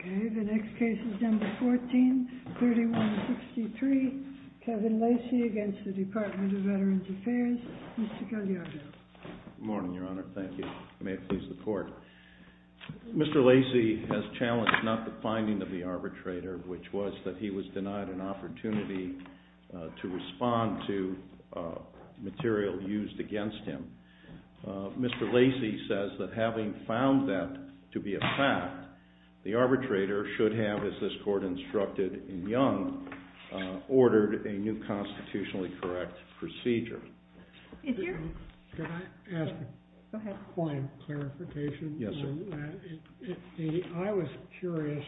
Okay, the next case is number 14, 3163, Kevin Lacey against the Department of Veterans Affairs. Mr. Gagliardo. Good morning, Your Honor. Thank you. May it please the Court. Mr. Lacey has challenged not the finding of the arbitrator, which was that he was denied an opportunity to respond to material used against him. Mr. Lacey says that having found that to be a fact, the arbitrator should have, as this Court instructed in Young, ordered a new constitutionally correct procedure. Could I ask a point of clarification? Yes, sir. I was curious.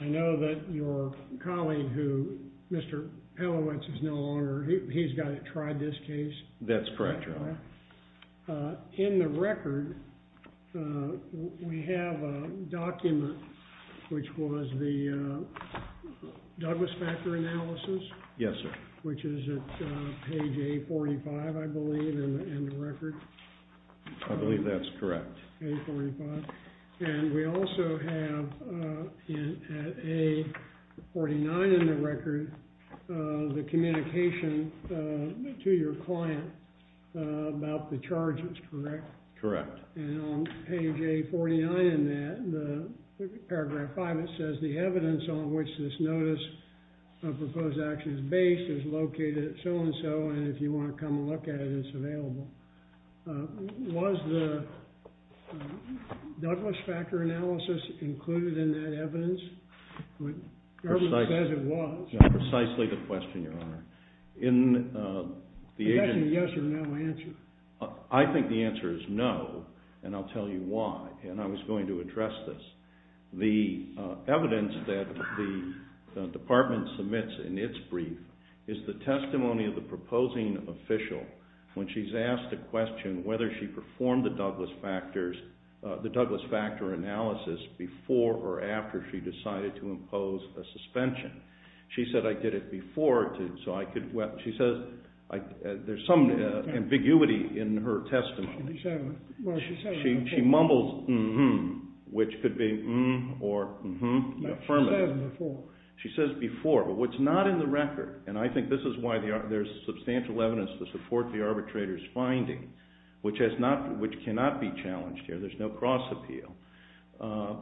I know that your colleague who, Mr. Pelowitz is no longer. He's got to try this case. That's correct, Your Honor. In the record, we have a document which was the Douglas Factor Analysis. Yes, sir. Which is at page A45, I believe, in the record. I believe that's correct. A45. And we also have, at A49 in the record, the communication to your client about the charges, correct? Correct. And on page A49 in that, paragraph 5, it says, the evidence on which this notice of proposed action is based is located at so-and-so, and if you want to come look at it, it's available. Was the Douglas Factor Analysis included in that evidence? The government says it was. Precisely the question, Your Honor. The question is yes or no answer. I think the answer is no, and I'll tell you why, and I was going to address this. The evidence that the department submits in its brief is the testimony of the proposing official when she's asked the question whether she performed the Douglas Factor Analysis before or after she decided to impose a suspension. She said, I did it before, so I could, she says, there's some ambiguity in her testimony. Well, she said it before. She mumbles mm-hmm, which could be mm or mm-hmm affirmative. No, she said it before. She says before, but what's not in the record, and I think this is why there's substantial evidence to support the arbitrator's finding, which cannot be challenged here, there's no cross-appeal,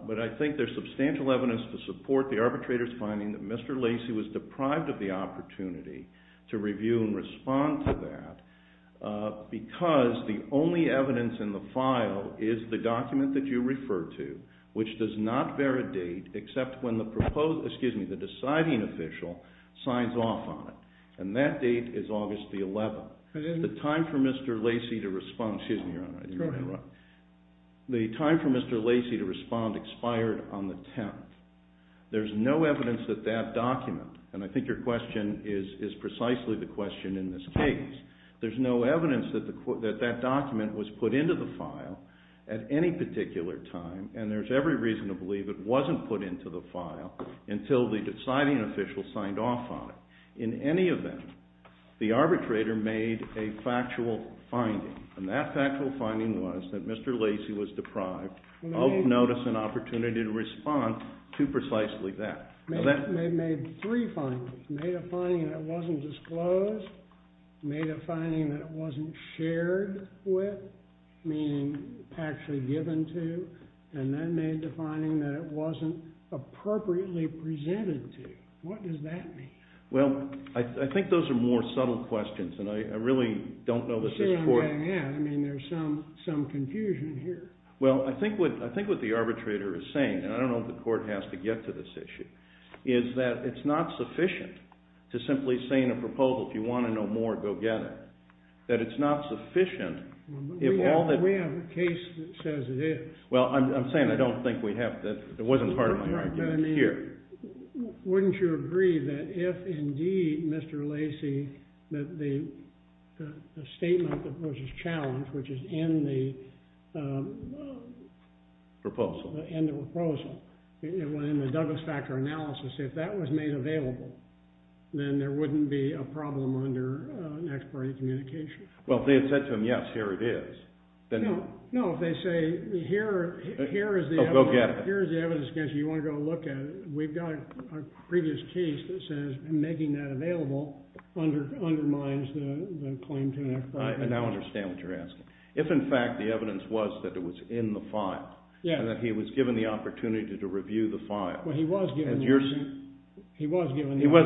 but I think there's substantial evidence to support the arbitrator's finding that Mr. Lacey was deprived of the opportunity to review and respond to that because the only evidence in the file is the document that you refer to, which does not bear a date except when the deciding official signs off on it, and that date is August the 11th. The time for Mr. Lacey to respond expired on the 10th. There's no evidence that that document, and I think your question is precisely the question in this case, there's no evidence that that document was put into the file at any particular time, and there's every reason to believe it wasn't put into the file until the deciding official signed off on it. In any event, the arbitrator made a factual finding, and that factual finding was that Mr. Lacey was deprived of notice and opportunity to respond to precisely that. They made three findings, made a finding that wasn't disclosed, made a finding that wasn't shared with, meaning actually given to, and then made the finding that it wasn't appropriately presented to. What does that mean? Well, I think those are more subtle questions, and I really don't know that this court… I'm sure I'm getting at it. I mean, there's some confusion here. Well, I think what the arbitrator is saying, and I don't know if the court has to get to this issue, is that it's not sufficient to simply say in a proposal, if you want to know more, go get it, that it's not sufficient if all that… We have a case that says it is. Well, I'm saying I don't think we have to… it wasn't part of my argument here. Wouldn't you agree that if indeed Mr. Lacey, that the statement that was challenged, which is in the… Proposal. In the proposal, in the Douglas-Fackler analysis, if that was made available, then there wouldn't be a problem under an ex parte communication. Well, if they had said to him, yes, here it is, then… No, if they say, here is the evidence… Oh, go get it. We've got a previous case that says making that available undermines the claim to an ex parte… I now understand what you're asking. If in fact the evidence was that it was in the file, and that he was given the opportunity to review the file… Well, he was given the opportunity. He was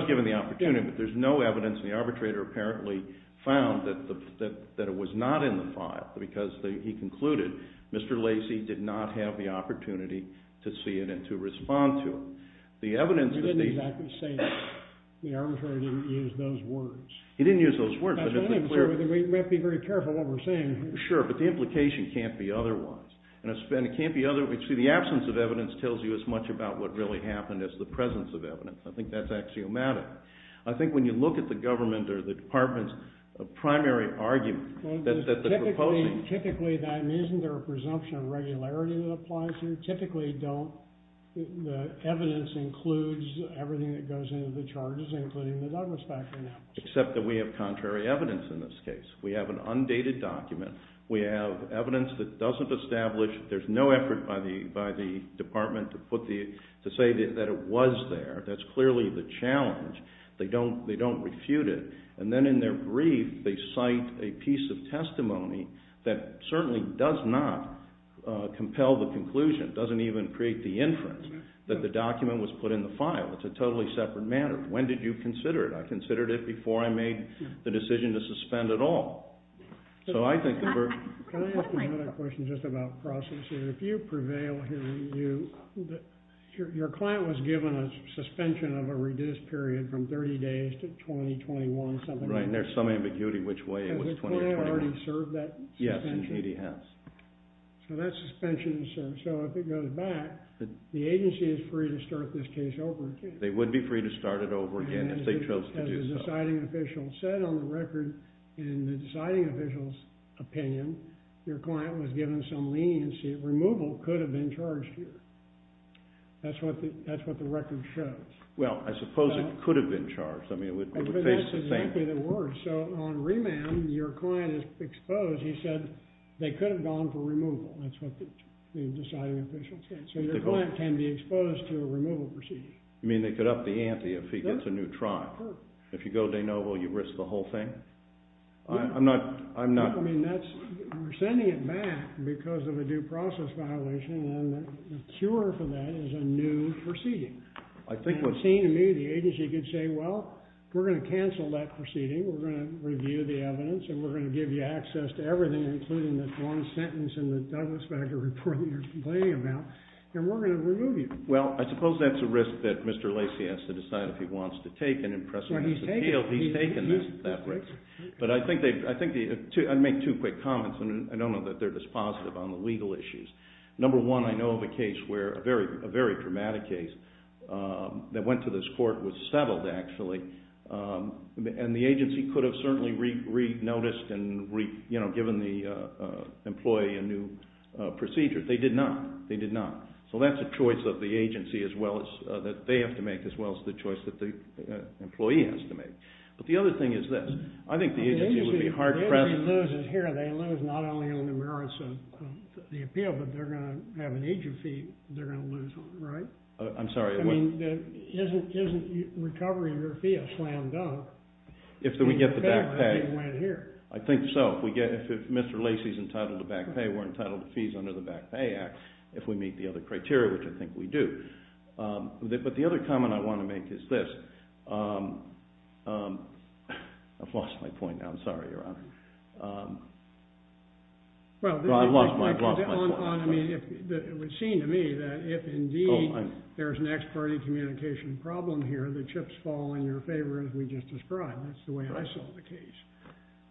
given the opportunity, but there's no evidence, and the arbitrator apparently found that it was not in the file, because he concluded Mr. Lacey did not have the opportunity to see it and to respond to it. We didn't exactly say that. The arbitrator didn't use those words. He didn't use those words. We might be very careful what we're saying here. Sure, but the implication can't be otherwise. See, the absence of evidence tells you as much about what really happened as the presence of evidence. I think that's axiomatic. I think when you look at the government or the department's primary argument that the proposing… Everything that goes into the charges, including the Douglas factor now. Except that we have contrary evidence in this case. We have an undated document. We have evidence that doesn't establish. There's no effort by the department to say that it was there. That's clearly the challenge. They don't refute it, and then in their brief they cite a piece of testimony that certainly does not compel the conclusion. It doesn't even create the inference that the document was put in the file. It's a totally separate matter. When did you consider it? I considered it before I made the decision to suspend at all. Can I ask another question just about process here? If you prevail here, your client was given a suspension of a reduced period from 30 days to 2021, something like that. Right, and there's some ambiguity which way it was 2021. Has the client already served that suspension? Yes, indeed he has. So that suspension is served. So if it goes back, the agency is free to start this case over again. They would be free to start it over again if they chose to do so. As a deciding official said on the record, in the deciding official's opinion, your client was given some leniency. Removal could have been charged here. That's what the record shows. Well, I suppose it could have been charged. I mean, it would face the same. That's exactly the word. So on remand, your client is exposed. He said they could have gone for removal. That's what the deciding official said. So your client can be exposed to a removal procedure. You mean they could up the ante if he gets a new trial? That's correct. If you go de novo, you risk the whole thing? I'm not— I mean, we're sending it back because of a due process violation, and the cure for that is a new proceeding. To me, the agency could say, well, we're going to cancel that proceeding. We're going to review the evidence, and we're going to give you access to everything, including that one sentence in the Douglas-Becker report that you're complaining about, and we're going to remove you. Well, I suppose that's a risk that Mr. Lacey has to decide if he wants to take and impress him as a appeal. He's taken that risk. But I'd make two quick comments, and I don't know that they're this positive on the legal issues. Number one, I know of a case where a very dramatic case that went to this court was settled, actually, and the agency could have certainly re-noticed and given the employee a new procedure. They did not. They did not. So that's a choice of the agency as well as—that they have to make as well as the choice that the employee has to make. But the other thing is this. I think the agency would be hard-pressed— if they're going to have an agent fee, they're going to lose one, right? I'm sorry. I mean, isn't recovering your fee a slam dunk? If we get the back pay— I think so. If Mr. Lacey is entitled to back pay, we're entitled to fees under the Back Pay Act if we meet the other criteria, which I think we do. But the other comment I want to make is this. I've lost my point now. I'm sorry, Your Honor. Well, I've lost my point. It would seem to me that if indeed there's an ex parte communication problem here, the chips fall in your favor as we just described. That's the way I saw the case.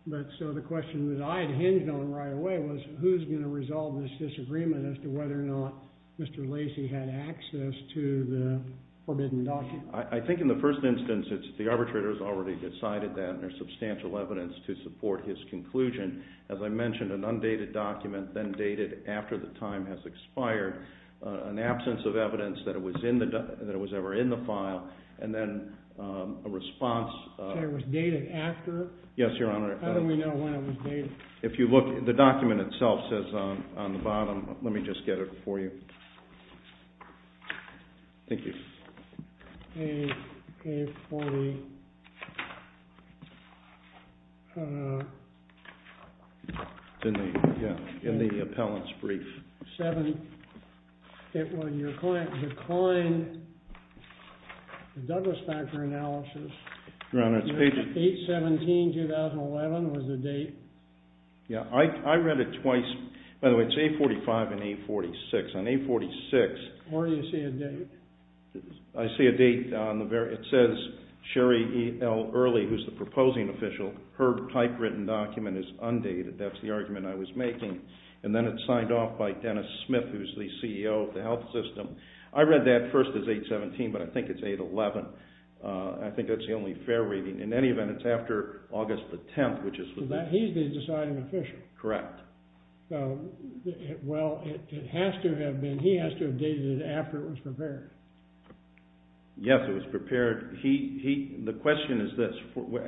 But so the question that I had hinged on right away was who's going to resolve this disagreement as to whether or not Mr. Lacey had access to the forbidden document? I think in the first instance it's the arbitrator's already decided that and there's substantial evidence to support his conclusion. As I mentioned, an undated document then dated after the time has expired, an absence of evidence that it was ever in the file, and then a response— So it was dated after? Yes, Your Honor. How do we know when it was dated? If you look, the document itself says on the bottom—let me just get it for you. Thank you. It's in the appellant's brief. When your client declined the Douglas Factor analysis, 8-17-2011 was the date. Yeah, I read it twice. By the way, it's 8-45 and 8-46. On 8-46— Where do you see a date? I see a date on the—it says Sherry L. Early, who's the proposing official, her typewritten document is undated. That's the argument I was making. And then it's signed off by Dennis Smith, who's the CEO of the health system. I read that first as 8-17, but I think it's 8-11. I think that's the only fair reading. In any event, it's after August the 10th, which is— He's the deciding official. Correct. Well, it has to have been—he has to have dated it after it was prepared. Yes, it was prepared. The question is this.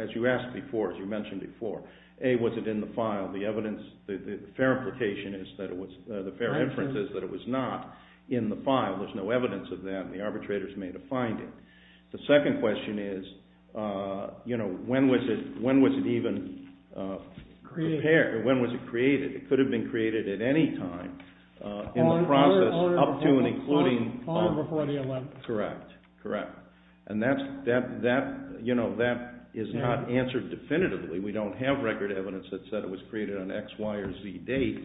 As you asked before, as you mentioned before, A, was it in the file? The evidence—the fair implication is that it was—the fair inference is that it was not in the file. There's no evidence of that, and the arbitrators made a finding. The second question is, you know, when was it even prepared? When was it created? It could have been created at any time in the process up to and including— All before the 11th. Correct. And that is not answered definitively. We don't have record evidence that said it was created on an X, Y, or Z date.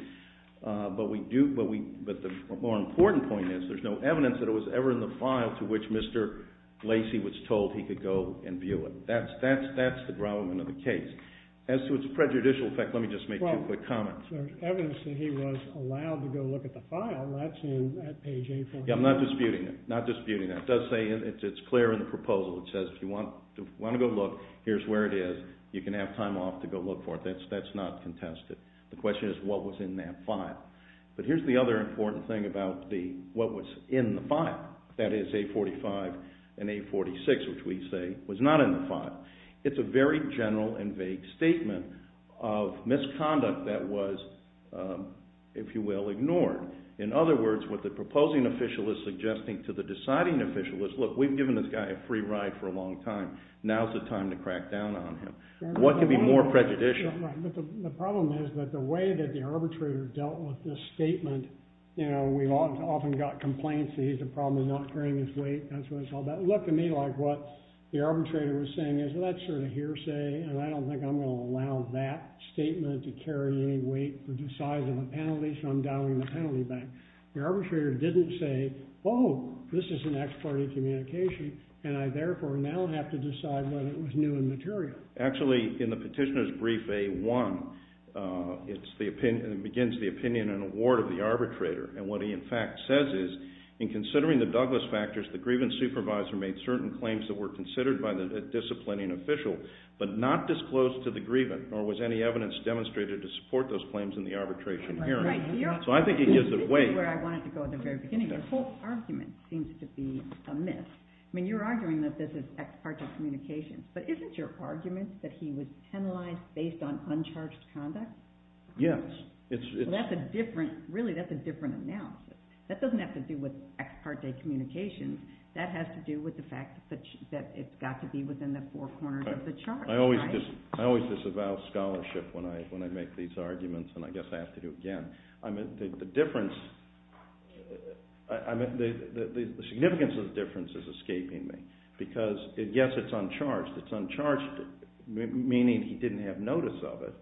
But we do—but the more important point is there's no evidence that it was ever in the file to which Mr. Lacey was told he could go and view it. That's the grommetment of the case. As to its prejudicial effect, let me just make two quick comments. Well, there's evidence that he was allowed to go look at the file. That's in page A14. Yeah, I'm not disputing it. Not disputing it. It does say—it's clear in the proposal. It says if you want to go look, here's where it is. You can have time off to go look for it. That's not contested. The question is what was in that file. But here's the other important thing about what was in the file. That is A45 and A46, which we say was not in the file. It's a very general and vague statement of misconduct that was, if you will, ignored. In other words, what the proposing official is suggesting to the deciding official is, look, we've given this guy a free ride for a long time. Now's the time to crack down on him. What could be more prejudicial? Right. But the problem is that the way that the arbitrator dealt with this statement—you know, we've often got complaints that he has a problem with not carrying his weight. That's what it's all about. It looked to me like what the arbitrator was saying is, well, that's sort of hearsay, and I don't think I'm going to allow that statement to carry any weight for the size of a penalty, so I'm dialing the penalty back. The arbitrator didn't say, oh, this is an ex parte communication, and I therefore now have to decide whether it was new and material. Actually, in the petitioner's brief A-1, it begins the opinion and award of the arbitrator. And what he in fact says is, in considering the Douglas factors, the grievance supervisor made certain claims that were considered by the disciplining official but not disclosed to the grievant, nor was any evidence demonstrated to support those claims in the arbitration hearing. So I think it gives it weight. This is where I wanted to go at the very beginning. Your whole argument seems to be amiss. You're arguing that this is ex parte communications, but isn't your argument that he was penalized based on uncharged conduct? Yes. Really, that's a different analysis. That doesn't have to do with ex parte communications. That has to do with the fact that it's got to be within the four corners of the chart. I always disavow scholarship when I make these arguments, and I guess I have to do it again. The significance of the difference is escaping me, because yes, it's uncharged. It's uncharged, meaning he didn't have notice of it.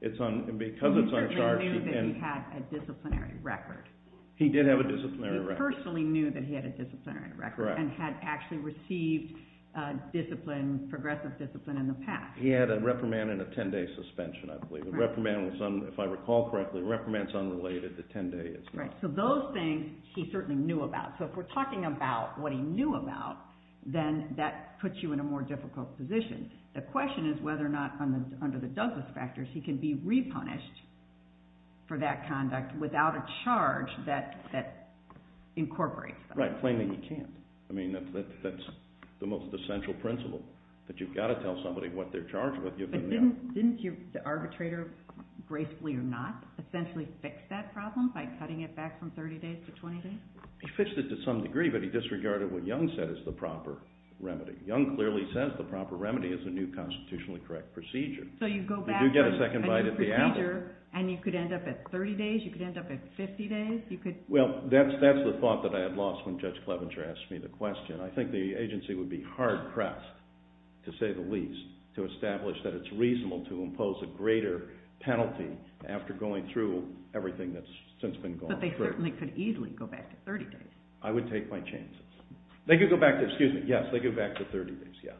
He certainly knew that he had a disciplinary record. He did have a disciplinary record. He personally knew that he had a disciplinary record and had actually received progressive discipline in the past. He had a reprimand and a ten-day suspension, I believe. If I recall correctly, the reprimand is unrelated. The ten-day is not. Right, so those things he certainly knew about. So if we're talking about what he knew about, then that puts you in a more difficult position. The question is whether or not, under the Douglas factors, he can be repunished for that conduct without a charge that incorporates that. Right, plainly he can't. I mean, that's the most essential principle, that you've got to tell somebody what they're charged with. But didn't the arbitrator, gracefully or not, essentially fix that problem by cutting it back from 30 days to 20 days? He fixed it to some degree, but he disregarded what Young said is the proper remedy. Young clearly says the proper remedy is a new constitutionally correct procedure. So you go back to a new procedure and you could end up at 30 days, you could end up at 50 days. Well, that's the thought that I had lost when Judge Clevenger asked me the question. I think the agency would be hard-pressed, to say the least, to establish that it's reasonable to impose a greater penalty after going through everything that's since been gone through. But they certainly could easily go back to 30 days. I would take my chances. They could go back to, excuse me, yes, they could go back to 30 days, yes.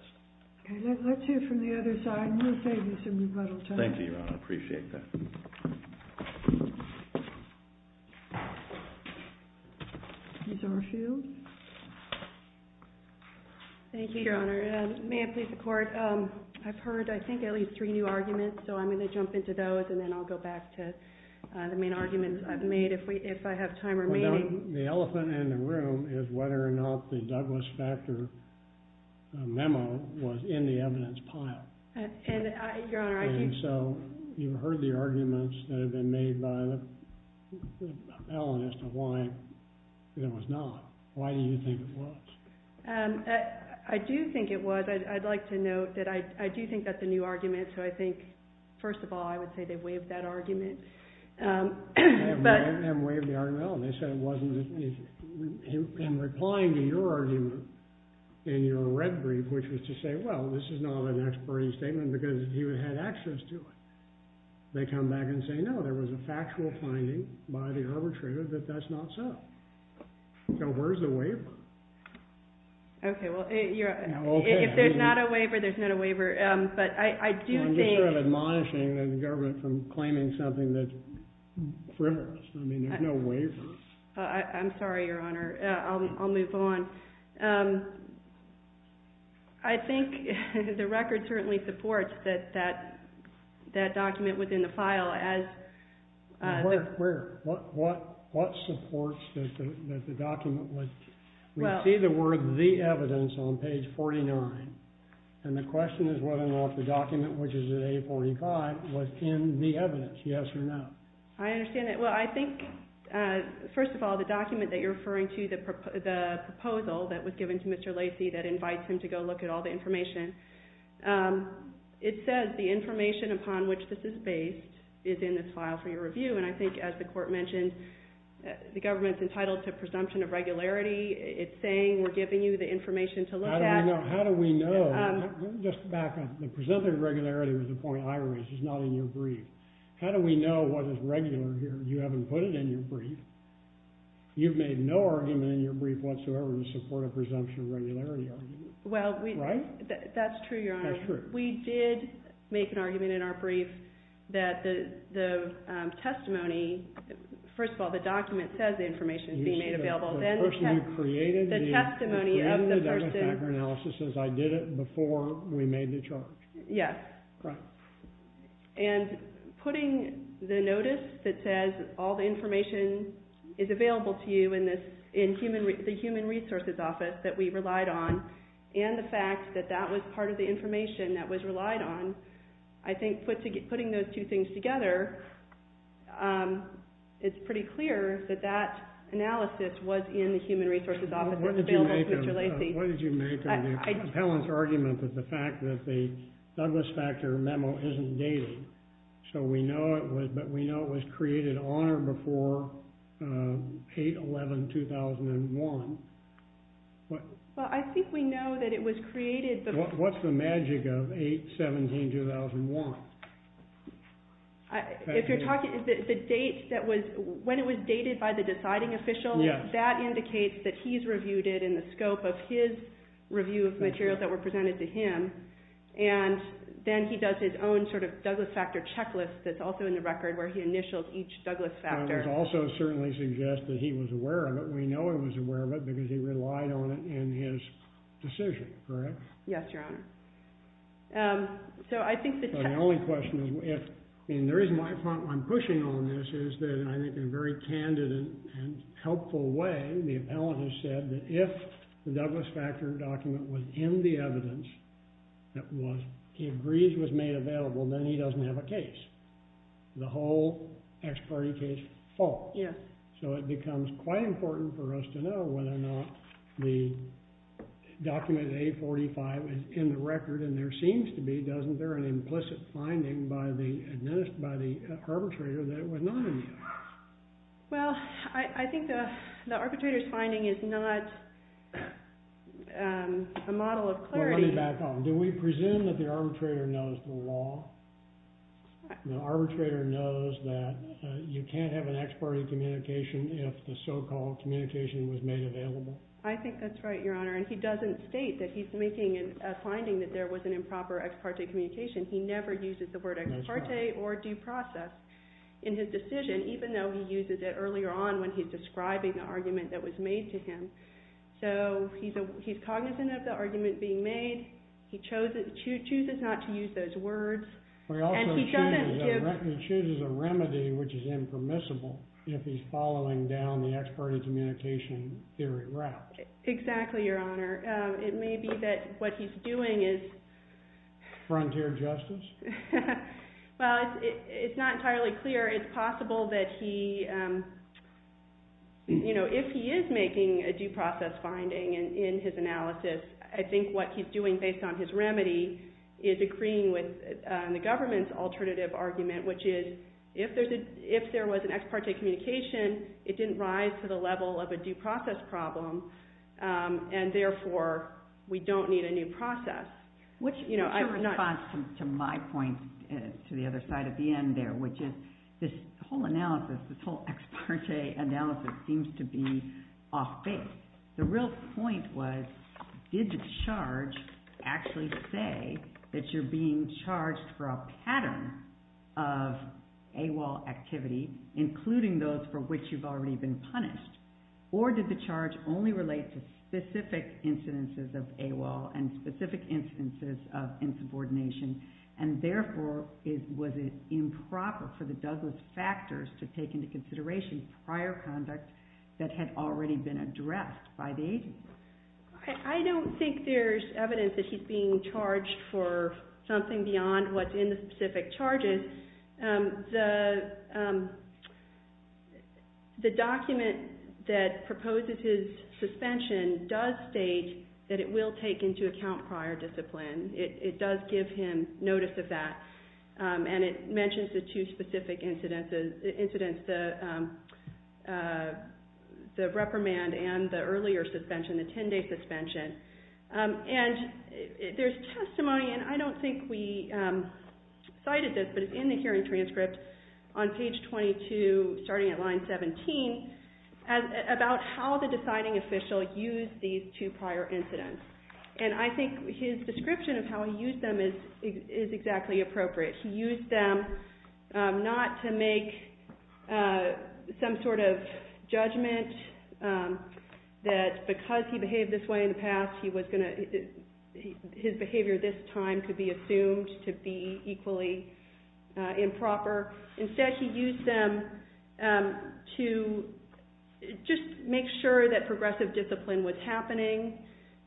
Okay, let's hear from the other side. We'll save you some rebuttal time. Thank you, Your Honor, I appreciate that. These are a few. Thank you, Your Honor. May it please the Court. I've heard, I think, at least three new arguments, so I'm going to jump into those and then I'll go back to the main arguments I've made if I have time remaining. The elephant in the room is whether or not the Douglas Factor memo was in the evidence pile. And so you've heard the arguments that have been made by the appellant as to why it was not. Why do you think it was? I do think it was. I'd like to note that I do think that's a new argument, so I think, first of all, I would say they've waived that argument. I'm replying to your argument in your red brief, which was to say, well, this is not an expertly statement because you had access to it. They come back and say, no, there was a factual finding by the arbitrator that that's not so. So where's the waiver? Okay, well, if there's not a waiver, there's not a waiver. I'm just sort of admonishing the government from claiming something that's frivolous. I mean, there's no waiver. I'm sorry, Your Honor. I'll move on. I think the record certainly supports that that document was in the file. Where? What supports that the document was? We see the word the evidence on page 49, and the question is whether or not the document, which is at A45, was in the evidence, yes or no. I understand that. Well, I think, first of all, the document that you're referring to, the proposal that was given to Mr. Lacey that invites him to go look at all the information, it says the information upon which this is based is in this file for your review. And I think, as the Court mentioned, the government's entitled to a presumption of regularity. It's saying we're giving you the information to look at. How do we know? Just back up. The presumption of regularity was the point I raised. It's not in your brief. How do we know what is regular here? You haven't put it in your brief. You've made no argument in your brief whatsoever to support a presumption of regularity argument. Right? That's true, Your Honor. That's true. We did make an argument in our brief that the testimony, first of all, the document says the information is being made available. You see the person who created the document. The testimony of the person. The person who created the document says I did it before we made the charge. Yes. Correct. And putting the notice that says all the information is available to you in the Human Resources Office that we relied on, and the fact that that was part of the information that was relied on, I think putting those two things together, it's pretty clear that that analysis was in the Human Resources Office. What did you make of Helen's argument that the fact that the Douglas Factor memo isn't dated, but we know it was created on or before 8-11-2001? Well, I think we know that it was created. What's the magic of 8-11-2001? If you're talking, the date that was, when it was dated by the deciding official, that indicates that he's reviewed it in the scope of his review of materials that were presented to him, and then he does his own sort of Douglas Factor checklist that's also in the record where he initials each Douglas Factor. I would also certainly suggest that he was aware of it. We know he was aware of it because he relied on it in his decision. Correct? Yes, Your Honor. So I think that the only question is if, and the reason I'm pushing on this is that I think in a very candid and helpful way, the appellant has said that if the Douglas Factor document was in the evidence that was, he agrees it was made available, then he doesn't have a case. The whole ex parte case falls. Yes. So it becomes quite important for us to know whether or not the document 845 is in the record, and there seems to be, doesn't there, an implicit finding by the arbitrator that it was not in the evidence? Well, I think the arbitrator's finding is not a model of clarity. Well, let me back up. Do we presume that the arbitrator knows the law? The arbitrator knows that you can't have an ex parte communication if the so-called communication was made available? I think that's right, Your Honor, and he doesn't state that he's making a finding that there was an improper ex parte communication. He never uses the word ex parte or due process in his decision, even though he uses it earlier on when he's describing the argument that was made to him. So he's cognizant of the argument being made. He chooses not to use those words. He also chooses a remedy which is impermissible if he's following down the ex parte communication theory route. Exactly, Your Honor. It may be that what he's doing is... Frontier justice? Well, it's not entirely clear. It's possible that he, you know, if he is making a due process finding in his analysis, I think what he's doing based on his remedy is agreeing with the government's alternative argument, which is if there was an ex parte communication, it didn't rise to the level of a due process problem, and therefore we don't need a new process. Which is a response to my point to the other side of the end there, which is this whole analysis, this whole ex parte analysis seems to be off base. The real point was did the charge actually say that you're being charged for a pattern of AWOL activity, including those for which you've already been punished, or did the charge only relate to specific incidences of AWOL and specific incidences of insubordination, and therefore was it improper for the Douglas factors to take into consideration prior conduct that had already been addressed by the agency? I don't think there's evidence that he's being charged for something beyond what's in the specific charges. The document that proposes his suspension does state that it will take into account prior discipline. It does give him notice of that, and it mentions the two specific incidents, the reprimand and the earlier suspension, the 10-day suspension. And there's testimony, and I don't think we cited this, but it's in the hearing transcript on page 22, starting at line 17, about how the deciding official used these two prior incidents. And I think his description of how he used them is exactly appropriate. He used them not to make some sort of judgment that because he behaved this way in the past, his behavior this time could be assumed to be equally improper. Instead, he used them to just make sure that progressive discipline was happening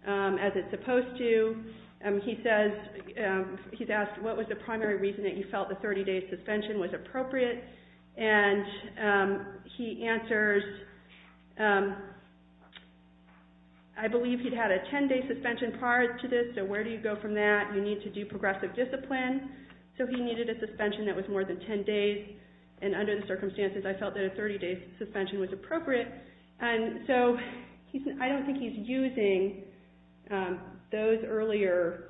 as it's supposed to. He's asked, what was the primary reason that you felt the 30-day suspension was appropriate? And he answers, I believe he'd had a 10-day suspension prior to this, so where do you go from that? You need to do progressive discipline. So he needed a suspension that was more than 10 days. And under the circumstances, I felt that a 30-day suspension was appropriate. And so I don't think he's using those earlier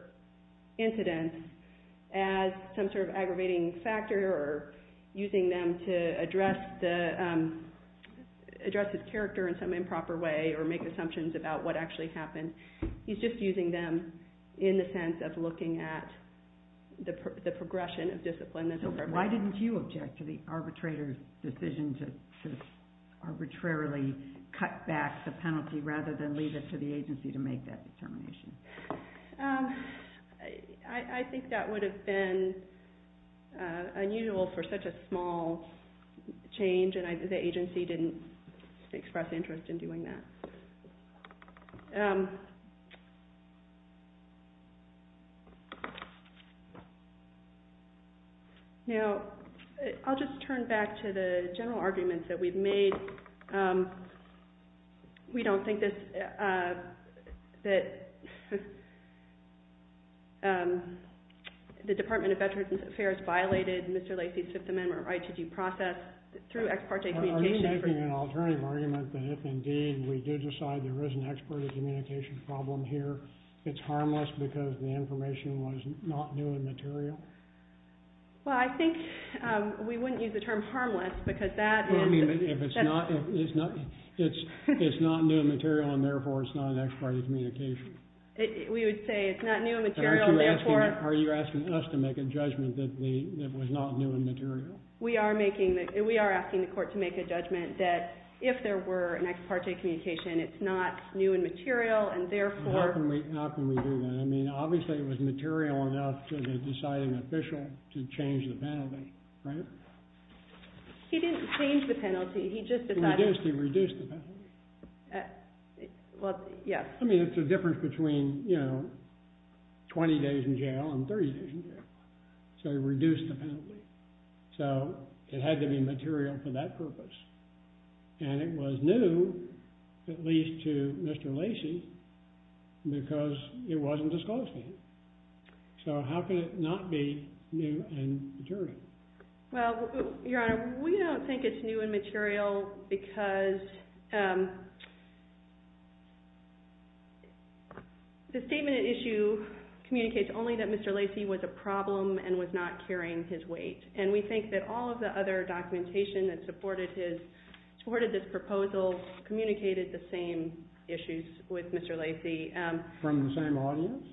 incidents as some sort of aggravating factor or using them to address his character in some improper way or make assumptions about what actually happened. He's just using them in the sense of looking at the progression of discipline. So why didn't you object to the arbitrator's decision to arbitrarily cut back the penalty rather than leave it to the agency to make that determination? I think that would have been unusual for such a small change, and the agency didn't express interest in doing that. Now, I'll just turn back to the general arguments that we've made. We don't think that the Department of Veterans Affairs violated Mr. Lacy's Fifth Amendment or ITG process through ex parte communication. Are you making an alternative argument that if indeed we do decide there is an ex parte communication problem here, it's harmless because the information was not new and material? Well, I think we wouldn't use the term harmless because that is... Well, I mean, if it's not new and material and therefore it's not an ex parte communication. We would say it's not new and material and therefore... Are you asking us to make a judgment that it was not new and material? We are asking the court to make a judgment that if there were an ex parte communication, it's not new and material and therefore... How can we do that? I mean, obviously it was material enough to the deciding official to change the penalty, right? He didn't change the penalty. He just decided... He reduced the penalty. Well, yes. I mean, it's the difference between, you know, 20 days in jail and 30 days in jail. So he reduced the penalty. So it had to be material for that purpose. And it was new, at least to Mr. Lacey, because it wasn't disclosed to him. So how can it not be new and material? Well, Your Honor, we don't think it's new and material because... The statement at issue communicates only that Mr. Lacey was a problem and was not carrying his weight. And we think that all of the other documentation that supported this proposal communicated the same issues with Mr. Lacey. From the same audience?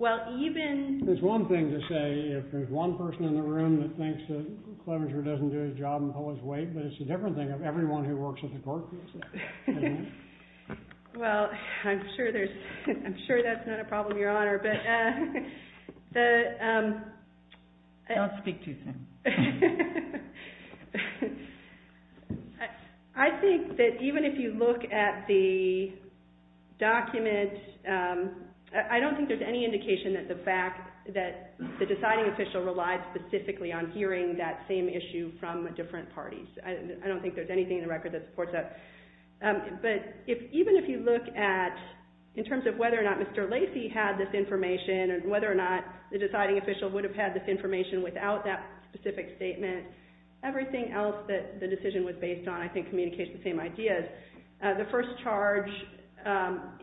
Well, even... There's one thing to say if there's one person in the room that thinks that Clevenger doesn't do his job and pull his weight, but it's a different thing if everyone who works at the court feels that. Well, I'm sure there's... I'm sure that's not a problem, Your Honor, but... Don't speak too soon. I think that even if you look at the document, I don't think there's any indication that the fact that the deciding official relies specifically on hearing that same issue from different parties. I don't think there's anything in the record that supports that. But even if you look at, in terms of whether or not Mr. Lacey had this information and whether or not the deciding official would have had this information without that specific statement, everything else that the decision was based on I think communicates the same ideas. The first charge,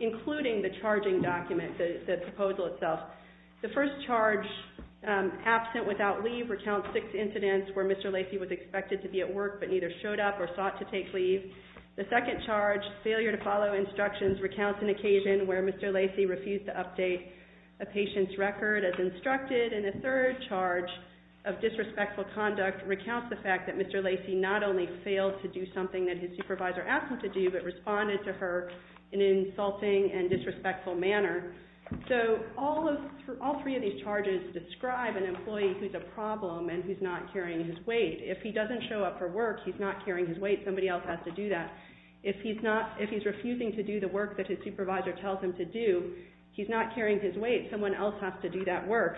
including the charging document, the proposal itself, the first charge, absent without leave, recounts six incidents where Mr. Lacey was expected to be at work but neither showed up or sought to take leave. The second charge, failure to follow instructions, recounts an occasion where Mr. Lacey refused to update a patient's record as instructed. And the third charge of disrespectful conduct recounts the fact that Mr. Lacey not only failed to do something that his supervisor asked him to do but responded to her in an insulting and disrespectful manner. So all three of these charges describe an employee who's a problem and who's not carrying his weight. If he doesn't show up for work, he's not carrying his weight. Somebody else has to do that. If he's refusing to do the work that his supervisor tells him to do, he's not carrying his weight. Someone else has to do that work.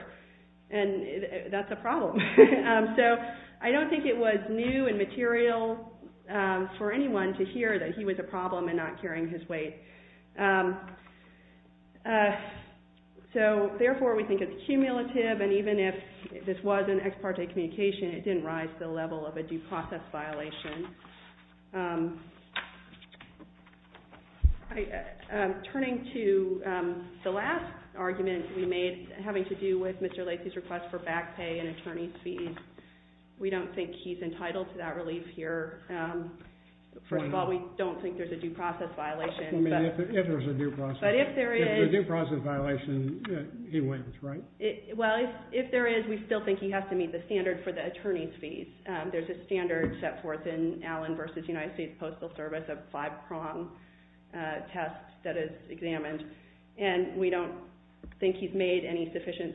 And that's a problem. So I don't think it was new and material for anyone to hear that he was a problem and not carrying his weight. So, therefore, we think it's cumulative. And even if this was an ex parte communication, it didn't rise to the level of a due process violation. Turning to the last argument we made having to do with Mr. Lacey's request for back pay and attorney's fees, we don't think he's entitled to that relief here. First of all, we don't think there's a due process violation. I mean, if there's a due process violation, he wins, right? Well, if there is, we still think he has to meet the standard for the attorney's fees. There's a standard set forth in Allen v. United States Postal Service, a five-prong test that is examined. And we don't think he's made any sufficient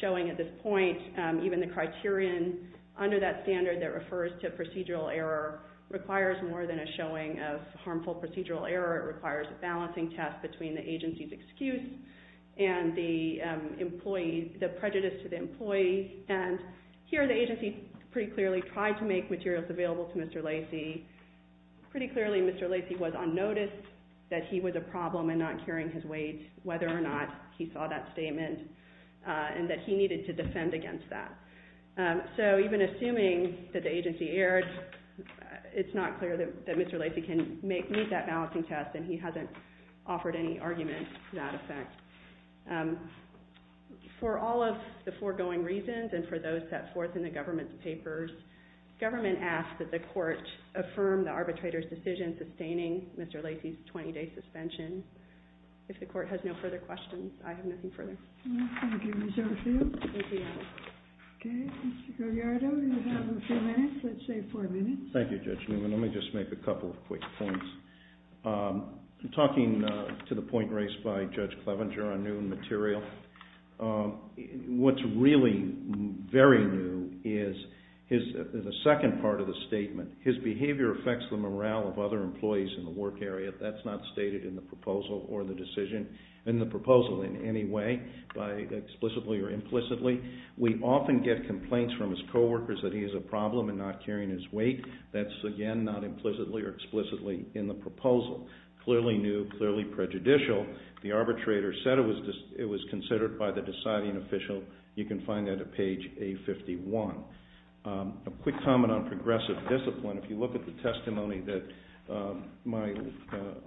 showing at this point. Even the criterion under that standard that refers to procedural error requires more than a showing of harmful procedural error. It requires a balancing test between the agency's excuse and the prejudice to the employee. And here the agency pretty clearly tried to make materials available to Mr. Lacey. Pretty clearly, Mr. Lacey was on notice that he was a problem and not carrying his weight, whether or not he saw that statement and that he needed to defend against that. So even assuming that the agency erred, it's not clear that Mr. Lacey can meet that balancing test, and he hasn't offered any argument to that effect. For all of the foregoing reasons and for those set forth in the government's papers, government asks that the court affirm the arbitrator's decision sustaining Mr. Lacey's 20-day suspension. If the court has no further questions, I have nothing further. Thank you, Ms. Urfield. Okay, Mr. Gallardo, you have a few minutes, let's say four minutes. Thank you, Judge Newman. Let me just make a couple of quick points. Talking to the point raised by Judge Clevenger on new material, what's really very new is the second part of the statement, his behavior affects the morale of other employees in the work area. That's not stated in the proposal in any way, explicitly or implicitly. We often get complaints from his coworkers that he has a problem in not carrying his weight. That's, again, not implicitly or explicitly in the proposal. Clearly new, clearly prejudicial. The arbitrator said it was considered by the deciding official. You can find that at page A51. A quick comment on progressive discipline. If you look at the testimony that my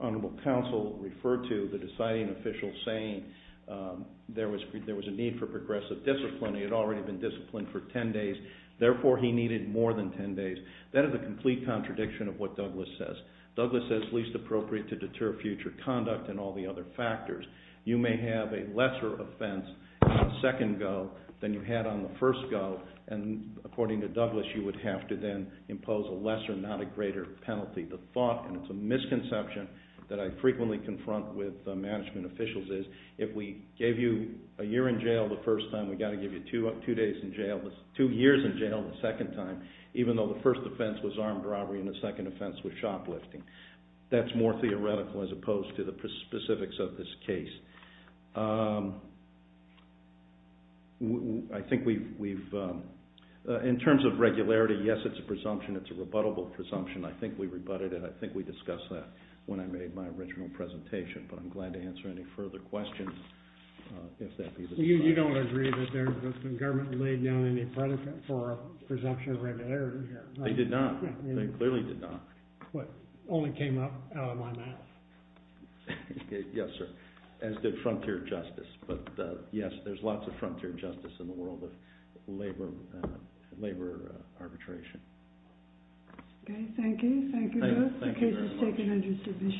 Honorable Counsel referred to, the deciding official saying there was a need for progressive discipline. He had already been disciplined for 10 days. Therefore, he needed more than 10 days. That is a complete contradiction of what Douglas says. Douglas says least appropriate to deter future conduct and all the other factors. You may have a lesser offense on the second go than you had on the first go, and according to Douglas, you would have to then impose a lesser, not a greater penalty. The thought, and it's a misconception that I frequently confront with management officials, is if we gave you a year in jail the first time, we've got to give you two years in jail the second time, even though the first offense was armed robbery and the second offense was shoplifting. That's more theoretical as opposed to the specifics of this case. I think we've, in terms of regularity, yes, it's a presumption. It's a rebuttable presumption. I think we rebutted it. I think we discussed that when I made my original presentation, but I'm glad to answer any further questions if that be the case. You don't agree that the government laid down any precedent for a presumption of regularity here, right? They did not. They clearly did not. Well, it only came up out of my mouth. Yes, sir, as did frontier justice. But, yes, there's lots of frontier justice in the world of labor arbitration. Okay, thank you. Thank you, Douglas. Thank you very much.